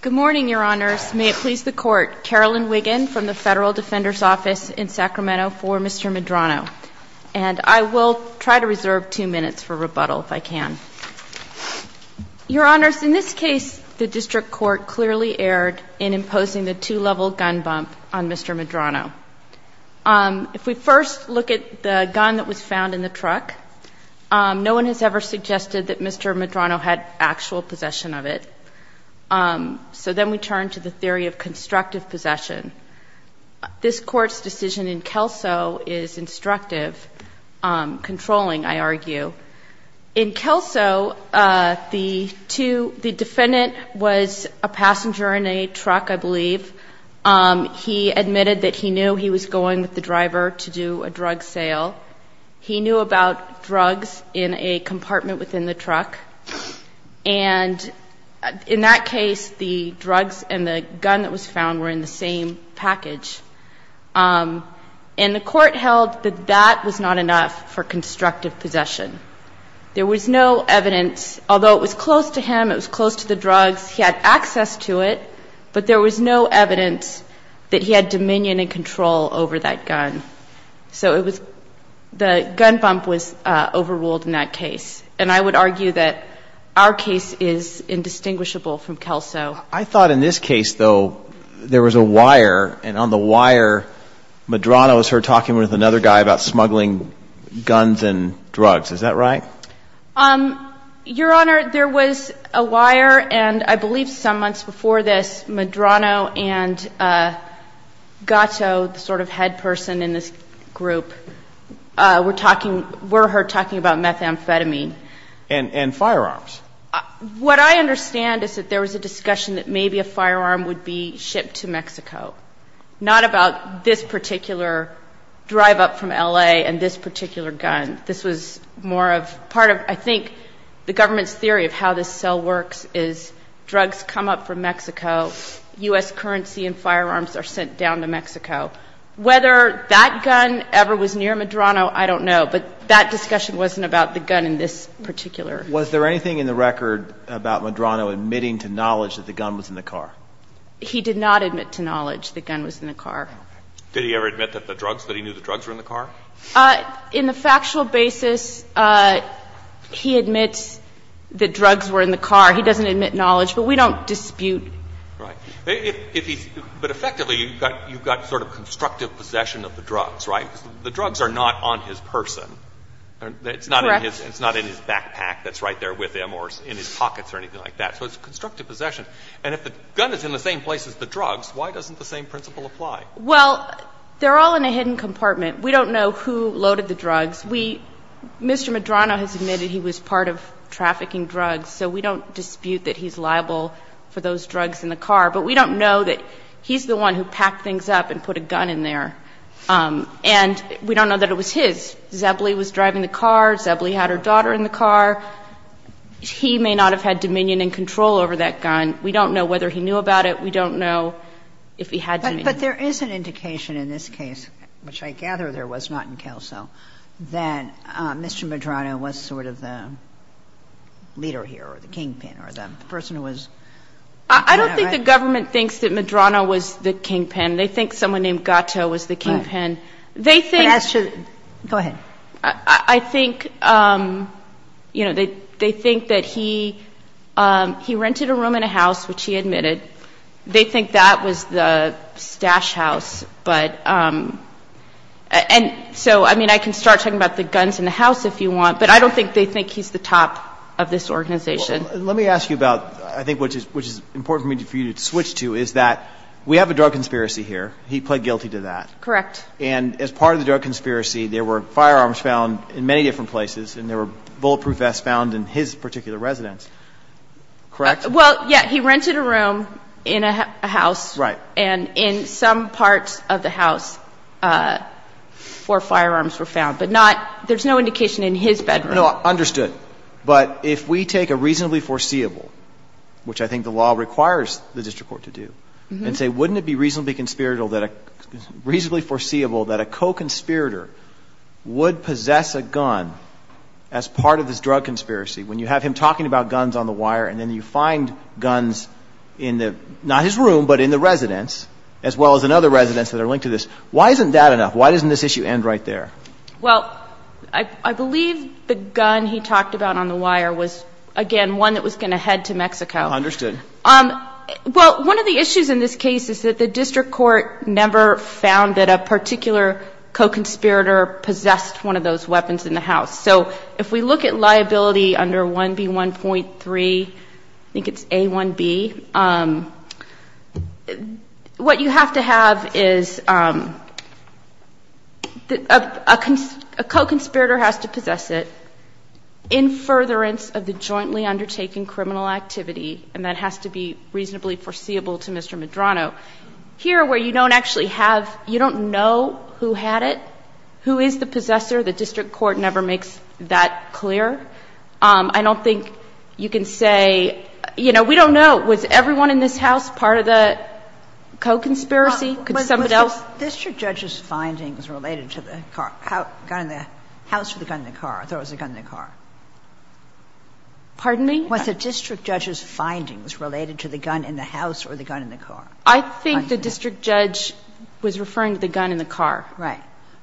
Good morning, Your Honors. May it please the Court, Carolyn Wiggin from the Federal Defender's Office in Sacramento for Mr. Medrano. And I will try to reserve two minutes for rebuttal if I can. Your Honors, in this case, the District Court clearly erred in imposing the two-level gun bump on Mr. Medrano. If we first look at the gun that was found in the truck, no one has ever suggested that Mr. Medrano had actual possession of it. So then we turn to the theory of constructive possession. This Court's decision in Kelso is instructive, controlling, I argue. In Kelso, the defendant was a passenger in a truck, I believe. He admitted that he knew he was going with the driver to do a drug sale. He knew about drugs in a compartment within the truck. And in that case, the drugs and the gun that was found were in the same package. And the Court held that that was not enough for constructive possession. There was no evidence, although it was close to him, it was close to the drugs, he had access to it, but there was no evidence that he had dominion and control over that gun. So it was the gun bump was overruled in that case. And I would argue that our case is indistinguishable from Kelso. I thought in this case, though, there was a wire, and on the wire, Medrano was heard talking with another guy about smuggling guns and drugs. Is that right? Your Honor, there was a wire, and I believe some months before this, and Gatto, the sort of head person in this group, were talking, were heard talking about methamphetamine. And firearms. What I understand is that there was a discussion that maybe a firearm would be shipped to Mexico, not about this particular drive-up from L.A. and this particular gun. This was more of part of, I think, the government's theory of how this sale works is drugs come up from Mexico, U.S. currency and firearms are sent down to Mexico. Whether that gun ever was near Medrano, I don't know. But that discussion wasn't about the gun in this particular case. Was there anything in the record about Medrano admitting to knowledge that the gun was in the car? He did not admit to knowledge the gun was in the car. Did he ever admit that the drugs, that he knew the drugs were in the car? In the factual basis, he admits that drugs were in the car. He doesn't admit knowledge, but we don't dispute. Right. But effectively, you've got sort of constructive possession of the drugs, right? The drugs are not on his person. Correct. It's not in his backpack that's right there with him or in his pockets or anything like that. So it's constructive possession. And if the gun is in the same place as the drugs, why doesn't the same principle apply? Well, they're all in a hidden compartment. We don't know who loaded the drugs. Mr. Medrano has admitted he was part of trafficking drugs, so we don't dispute that he's liable for those drugs in the car. But we don't know that he's the one who packed things up and put a gun in there. And we don't know that it was his. Zebley was driving the car. Zebley had her daughter in the car. He may not have had dominion and control over that gun. We don't know whether he knew about it. We don't know if he had dominion. But there is an indication in this case, which I gather there was not in Kelso, that Mr. Medrano was sort of the leader here or the kingpin or the person who was Medrano, right? I don't think the government thinks that Medrano was the kingpin. They think someone named Gatto was the kingpin. Go ahead. I think, you know, they think that he rented a room in a house, which he admitted. They think that was the stash house. And so, I mean, I can start talking about the guns in the house if you want, but I don't think they think he's the top of this organization. Let me ask you about, I think, which is important for me for you to switch to, is that we have a drug conspiracy here. He pled guilty to that. Correct. And as part of the drug conspiracy, there were firearms found in many different places and there were bulletproof vests found in his particular residence, correct? Well, yeah. He rented a room in a house. Right. And in some parts of the house, four firearms were found. But there's no indication in his bedroom. No. Understood. But if we take a reasonably foreseeable, which I think the law requires the district court to do, and say, wouldn't it be reasonably foreseeable that a co-conspirator would possess a gun as part of this drug conspiracy when you have him talking about guns on the wire and then you find guns in the, not his room, but in the residence, as well as in other residences that are linked to this. Why isn't that enough? Why doesn't this issue end right there? Well, I believe the gun he talked about on the wire was, again, one that was going to head to Mexico. Understood. Well, one of the issues in this case is that the district court never found that a particular co-conspirator possessed one of those weapons in the house. So if we look at liability under 1B1.3, I think it's A1B, what you have to have is a co-conspirator has to possess it in furtherance of the jointly undertaken criminal activity, and that has to be reasonably foreseeable to Mr. Medrano. Here, where you don't actually have, you don't know who had it, who is the possessor, the district court never makes that clear. I don't think you can say, you know, we don't know, was everyone in this house part of the co-conspiracy? Could somebody else? Was the district judge's findings related to the car, gun in the house or the gun in the car? I thought it was the gun in the car. Pardon me? Was the district judge's findings related to the gun in the house or the gun in the car? I think the district judge was referring to the gun in the car. Right.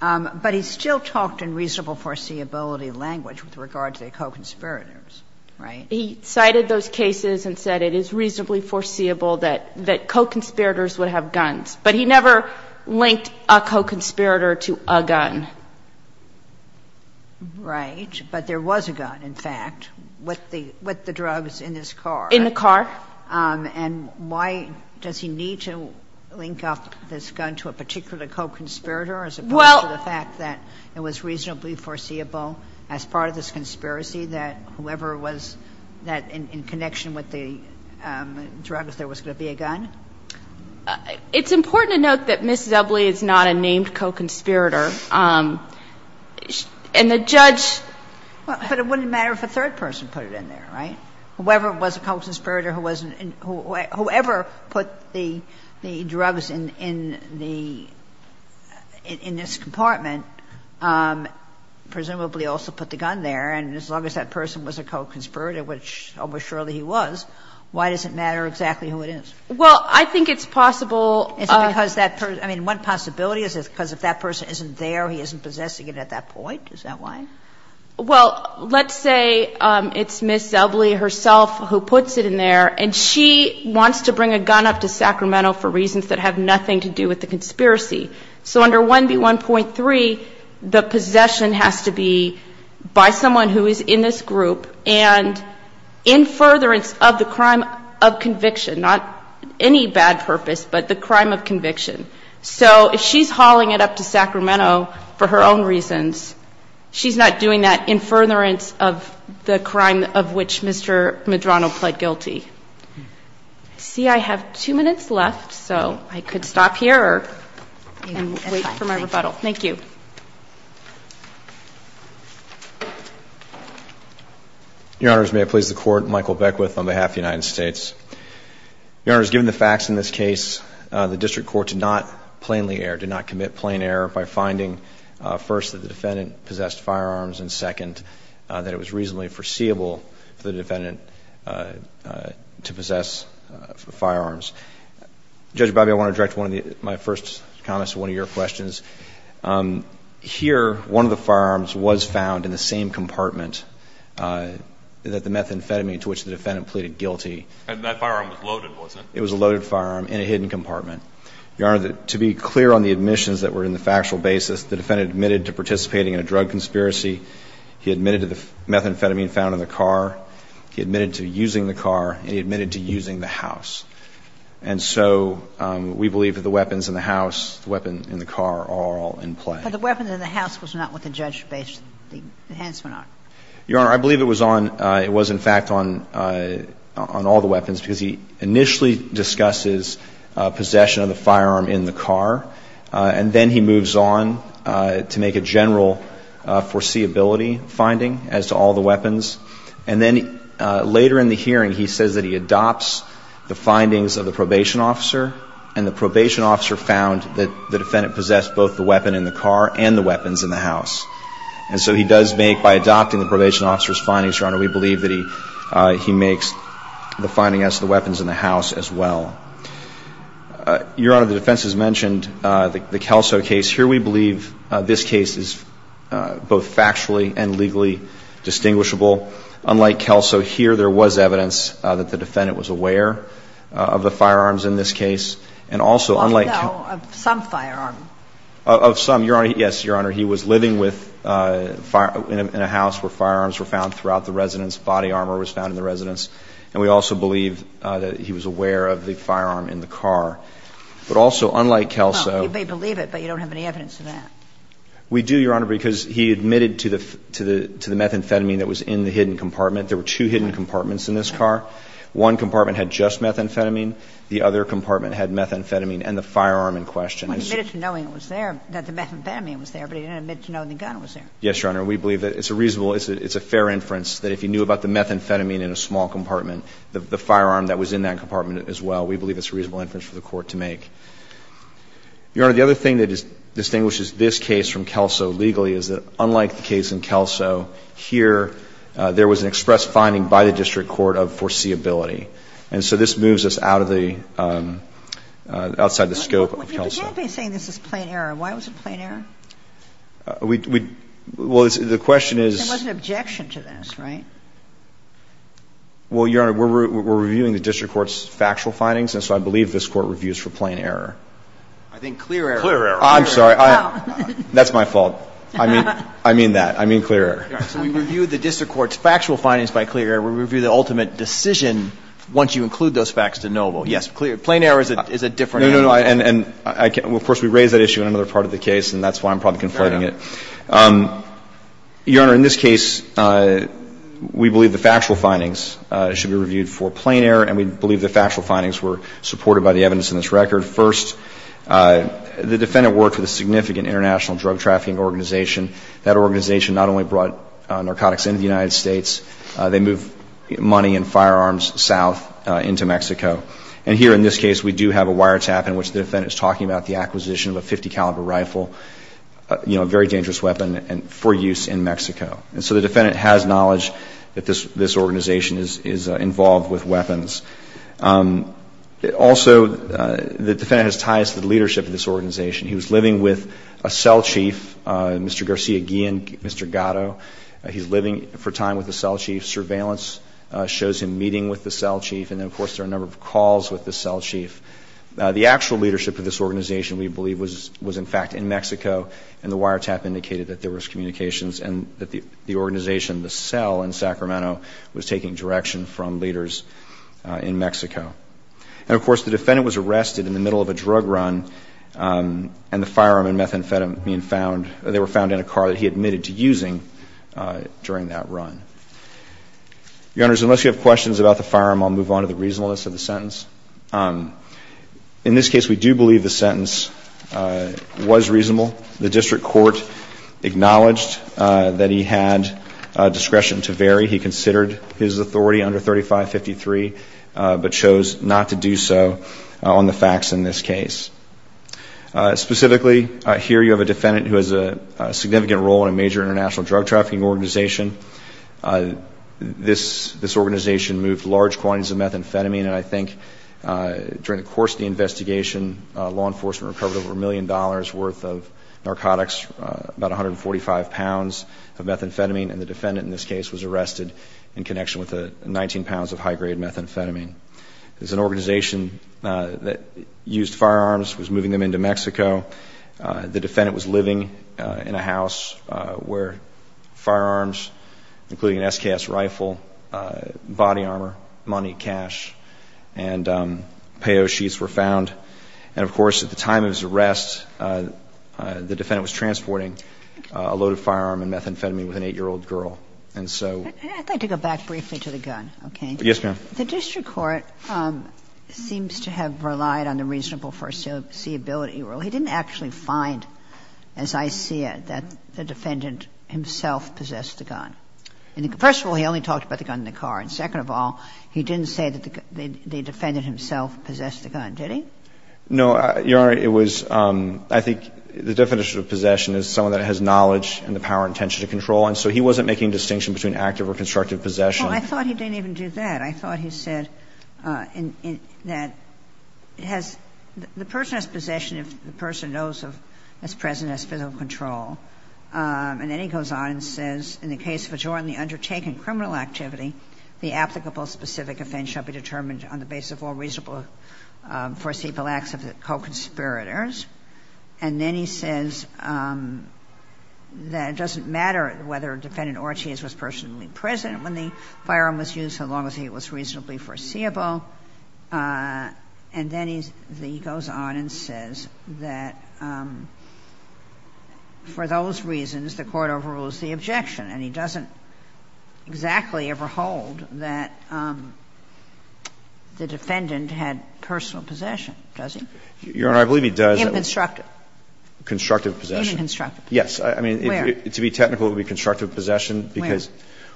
But he still talked in reasonable foreseeability language with regard to the co-conspirators. Right? He cited those cases and said it is reasonably foreseeable that co-conspirators would have guns, but he never linked a co-conspirator to a gun. Right. But there was a gun, in fact, with the drugs in his car. In the car. And why does he need to link up this gun to a particular co-conspirator as opposed to the fact that it was reasonably foreseeable as part of this conspiracy that whoever was that in connection with the drugs there was going to be a gun? It's important to note that Mrs. Ebley is not a named co-conspirator, and the judge But it wouldn't matter if a third person put it in there, right? Whoever was a co-conspirator, whoever put the drugs in this compartment presumably also put the gun there, and as long as that person was a co-conspirator, which almost surely he was, why does it matter exactly who it is? Well, I think it's possible. Is it because that person – I mean, one possibility is because if that person isn't there, he isn't possessing it at that point. Is that why? Well, let's say it's Ms. Ebley herself who puts it in there, and she wants to bring a gun up to Sacramento for reasons that have nothing to do with the conspiracy. So under 1B1.3, the possession has to be by someone who is in this group and in furtherance of the crime of conviction, not any bad purpose, but the crime of conviction. So if she's hauling it up to Sacramento for her own reasons, she's not doing that in furtherance of the crime of which Mr. Medrano pled guilty. I see I have two minutes left, so I could stop here and wait for my rebuttal. Thank you. Your Honors, may I please the Court? Michael Beckwith on behalf of the United States. Your Honors, given the facts in this case, the district court did not plainly err, did not commit plain error by finding, first, that the defendant possessed firearms, and, second, that it was reasonably foreseeable for the defendant to possess firearms. Judge Bobby, I want to direct my first comments to one of your questions. Here, one of the firearms was found in the same compartment that the methamphetamine to which the defendant pleaded guilty. And that firearm was loaded, wasn't it? It was a loaded firearm in a hidden compartment. Your Honor, to be clear on the admissions that were in the factual basis, the defendant admitted to participating in a drug conspiracy. He admitted to the methamphetamine found in the car. He admitted to using the car. And he admitted to using the house. And so we believe that the weapons in the house, the weapon in the car, are all in play. But the weapon in the house was not what the judge based the enhancements Your Honor, I believe it was on, it was, in fact, on all the weapons because he initially discusses possession of the firearm in the car. And then he moves on to make a general foreseeability finding as to all the weapons. And then later in the hearing, he says that he adopts the findings of the probation officer. And the probation officer found that the defendant possessed both the weapon in the car and the weapons in the house. And so he does make, by adopting the probation officer's findings, Your Honor, we believe that he makes the findings as to the weapons in the house as well. Your Honor, the defense has mentioned the Kelso case. Here we believe this case is both factually and legally distinguishable. Unlike Kelso here, there was evidence that the defendant was aware of the firearms in this case. And also unlike Kelso. Well, no, of some firearms. Of some, Your Honor. Yes, Your Honor. He was living with, in a house where firearms were found throughout the residence, body armor was found in the residence. And we also believe that he was aware of the firearm in the car. But also unlike Kelso. Well, you may believe it, but you don't have any evidence of that. We do, Your Honor, because he admitted to the methamphetamine that was in the hidden compartment. There were two hidden compartments in this car. One compartment had just methamphetamine. The other compartment had methamphetamine and the firearm in question. He admitted to knowing it was there, that the methamphetamine was there, but he didn't admit to knowing the gun was there. Yes, Your Honor. We believe that it's a reasonable, it's a fair inference that if he knew about the methamphetamine in a small compartment, the firearm that was in that compartment as well, we believe it's a reasonable inference for the Court to make. Your Honor, the other thing that distinguishes this case from Kelso legally is that unlike the case in Kelso, here there was an express finding by the district court of foreseeability. And so this moves us out of the, outside the scope of Kelso. But you can't be saying this is plain error. Why was it plain error? We, well, the question is. There was an objection to this, right? Well, Your Honor, we're reviewing the district court's factual findings, and so I believe this Court reviews for plain error. I think clear error. Clear error. I'm sorry. That's my fault. I mean that. I mean clear error. All right. So we review the district court's factual findings by clear error. We review the ultimate decision once you include those facts as knowable. Yes, plain error is a different answer. No, no, no. And of course we raise that issue in another part of the case, and that's why I'm probably conflating it. Your Honor, in this case, we believe the factual findings should be reviewed for plain error, and we believe the factual findings were supported by the evidence in this record. First, the defendant worked with a significant international drug trafficking organization. That organization not only brought narcotics into the United States, they moved money and firearms south into Mexico. And here in this case, we do have a wiretap in which the defendant is talking about the acquisition of a .50 caliber rifle, you know, a very dangerous weapon for use in Mexico. And so the defendant has knowledge that this organization is involved with weapons. Also, the defendant has ties to the leadership of this organization. He was living with a cell chief, Mr. Garcia Guillen, Mr. Gatto. He's living for time with the cell chief. Surveillance shows him meeting with the cell chief. And then, of course, there are a number of calls with the cell chief. The actual leadership of this organization, we believe, was in fact in Mexico, and the wiretap indicated that there was communications and that the organization, the cell in Sacramento, was taking direction from leaders in Mexico. And, of course, the defendant was arrested in the middle of a drug run, and the firearm and methamphetamine were found in a car that he admitted to using during that run. Your Honors, unless you have questions about the firearm, I'll move on to the reasonableness of the sentence. In this case, we do believe the sentence was reasonable. The district court acknowledged that he had discretion to vary. He considered his authority under 3553, but chose not to do so on the facts in this case. Specifically, here you have a defendant who has a significant role in a major international drug trafficking organization. This organization moved large quantities of methamphetamine, and I think during the course of the investigation, law enforcement recovered over a million dollars' worth of narcotics, about 145 pounds of methamphetamine, and the defendant in this case was arrested in connection with 19 pounds of high-grade methamphetamine. It was an organization that used firearms, was moving them into Mexico. The defendant was living in a house where firearms, including an SKS rifle, body armor, money, cash, and payo sheets were found. And, of course, at the time of his arrest, the defendant was transporting a load of firearm and methamphetamine with an 8-year-old girl. And so ---- And I'd like to go back briefly to the gun, okay? Yes, ma'am. The district court seems to have relied on the reasonable foreseeability of the 8-year-old. He didn't actually find, as I see it, that the defendant himself possessed the gun. First of all, he only talked about the gun in the car, and second of all, he didn't say that the defendant himself possessed the gun, did he? No, Your Honor. It was ---- I think the definition of possession is someone that has knowledge and the power and intention to control, and so he wasn't making a distinction between active or constructive possession. Well, I thought he didn't even do that. I thought he said that it has ---- the person has possession if the person knows of, is present, has physical control. And then he goes on and says, In the case of a jointly undertaken criminal activity, the applicable specific offense shall be determined on the basis of all reasonable foreseeable acts of the co-conspirators. And then he says that it doesn't matter whether a defendant or a chieze was personally present when the firearm was used, so long as it was reasonably foreseeable. And then he goes on and says that for those reasons the court overrules the objection, and he doesn't exactly ever hold that the defendant had personal possession, does he? Your Honor, I believe he does. Inconstructive. Constructive possession. Inconstructive possession. Where? To be technical, it would be constructive possession. Where? Because,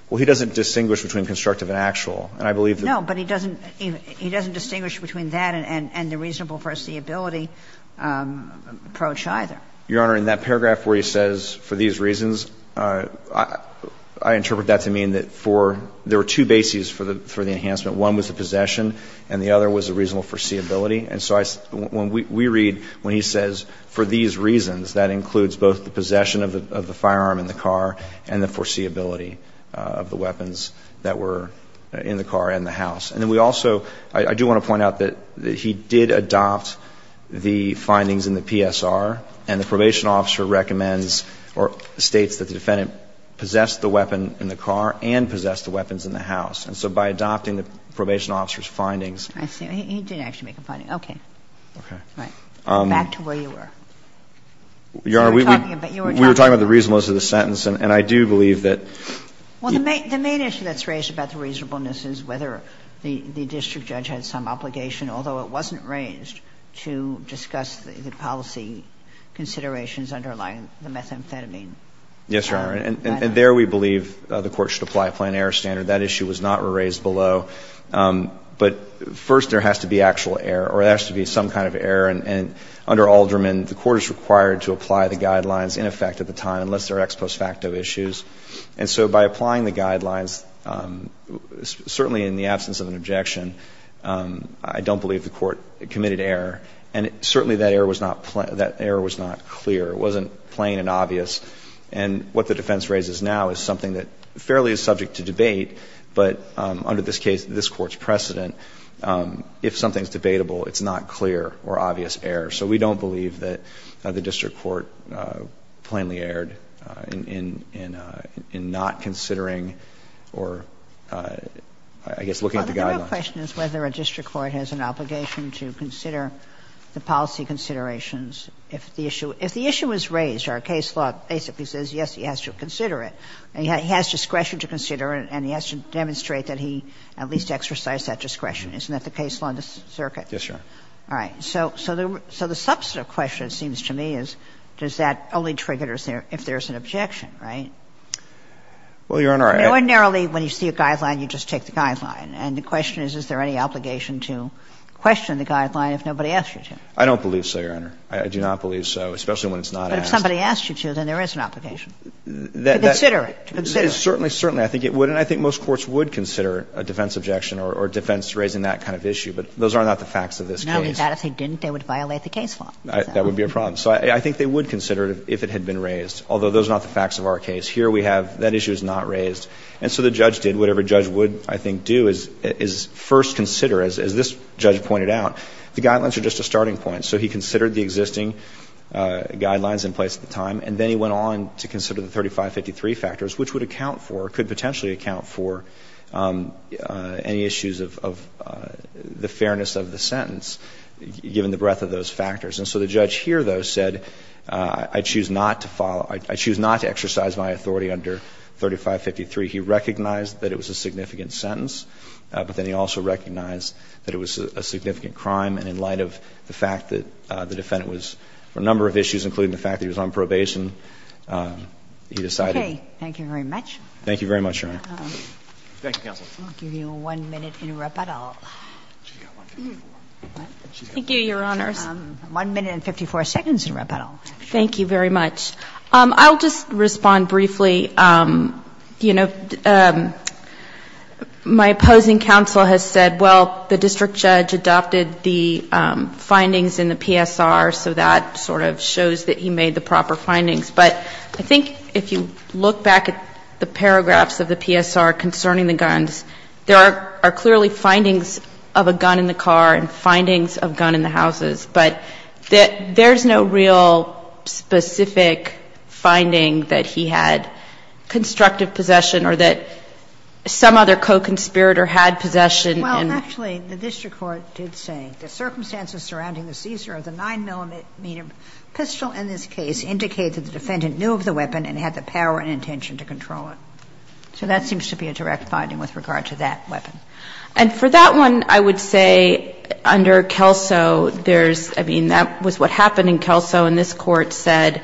well, he doesn't distinguish between constructive and actual. And I believe that ---- No, but he doesn't ---- he doesn't distinguish between that and the reasonable foreseeability approach either. Your Honor, in that paragraph where he says, for these reasons, I interpret that to mean that for ---- there were two bases for the enhancement. One was the possession and the other was the reasonable foreseeability. And so I ---- when we read when he says, for these reasons, that includes both the reasonable foreseeability of the weapons that were in the car and the house. And then we also ---- I do want to point out that he did adopt the findings in the PSR, and the probation officer recommends or states that the defendant possessed the weapon in the car and possessed the weapons in the house. And so by adopting the probation officer's findings ---- I see. He didn't actually make a finding. Okay. Okay. Right. Back to where you were. Your Honor, we were talking about the reasonableness of the sentence. And I do believe that ---- Well, the main issue that's raised about the reasonableness is whether the district judge had some obligation, although it wasn't raised, to discuss the policy considerations underlying the methamphetamine. Yes, Your Honor. And there we believe the Court should apply a plan error standard. That issue was not raised below. I think it's fair. And under Alderman, the Court is required to apply the guidelines in effect at the time unless there are ex post facto issues. And so by applying the guidelines, certainly in the absence of an objection, I don't believe the Court committed error. And certainly that error was not clear. It wasn't plain and obvious. And what the defense raises now is something that fairly is subject to debate, but under this case, this Court's precedent, if something is debatable, it's not clear or obvious error. So we don't believe that the district court plainly erred in not considering or, I guess, looking at the guidelines. Well, the real question is whether a district court has an obligation to consider the policy considerations. If the issue was raised, our case law basically says, yes, he has to consider it. He has discretion to consider it and he has to demonstrate that he at least exercised Isn't that the case law in the circuit? Yes, Your Honor. All right. So the substantive question, it seems to me, is does that only trigger if there's an objection, right? Well, Your Honor, I... Ordinarily, when you see a guideline, you just take the guideline. And the question is, is there any obligation to question the guideline if nobody asks you to? I don't believe so, Your Honor. I do not believe so, especially when it's not asked. But if somebody asks you to, then there is an obligation. To consider it. To consider it. Certainly, certainly. I think it would. And I think most courts would consider a defense objection or defense raising that kind of issue. But those are not the facts of this case. No, they're not. If they didn't, they would violate the case law. That would be a problem. So I think they would consider it if it had been raised, although those are not the facts of our case. Here we have that issue is not raised. And so the judge did whatever a judge would, I think, do is first consider, as this judge pointed out, the guidelines are just a starting point. So he considered the existing guidelines in place at the time, and then he went on to consider the 3553 factors, which would account for, could potentially account for any issues of the fairness of the sentence, given the breadth of those factors. And so the judge here, though, said, I choose not to follow, I choose not to exercise my authority under 3553. He recognized that it was a significant sentence, but then he also recognized that it was a significant crime. And in light of the fact that the defendant was for a number of issues, including the fact that he was on probation, he decided. Okay. Thank you very much. Thank you very much, Your Honor. Thank you, counsel. I'll give you one minute in rebuttal. Thank you, Your Honors. One minute and 54 seconds in rebuttal. Thank you very much. I'll just respond briefly. You know, my opposing counsel has said, well, the district judge adopted the findings in the PSR, so that sort of shows that he made the proper findings. But I think if you look back at the paragraphs of the PSR concerning the guns, there are clearly findings of a gun in the car and findings of a gun in the houses. But there's no real specific finding that he had constructive possession or that some other co-conspirator had possession. Well, actually, the district court did say, So that seems to be a direct finding with regard to that weapon. And for that one, I would say under Kelso, there's, I mean, that was what happened in Kelso, and this Court said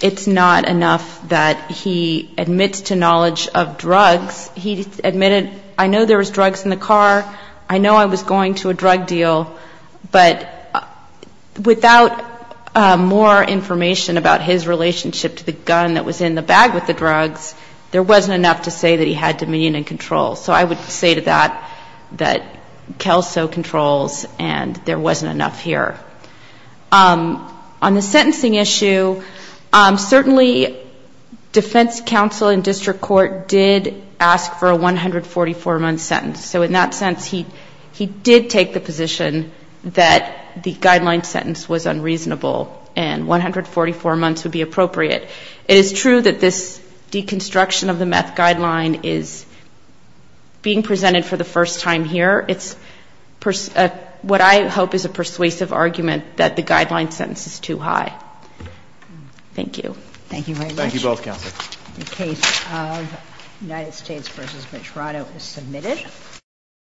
it's not enough that he admits to knowledge of drugs. He admitted, I know there was drugs in the car. I know I was going to a drug deal. I know there was drugs in the car. But without more information about his relationship to the gun that was in the bag with the drugs, there wasn't enough to say that he had dominion and control. So I would say to that that Kelso controls, and there wasn't enough here. On the sentencing issue, certainly defense counsel and district court did ask for a 144-month sentence. So in that sense, he did take the position that the guideline sentence was unreasonable and 144 months would be appropriate. It is true that this deconstruction of the meth guideline is being presented for the first time here. It's what I hope is a persuasive argument that the guideline sentence is too high. Thank you. Thank you very much. Thank you both, Counsel. The case of United States v. Metrano is submitted.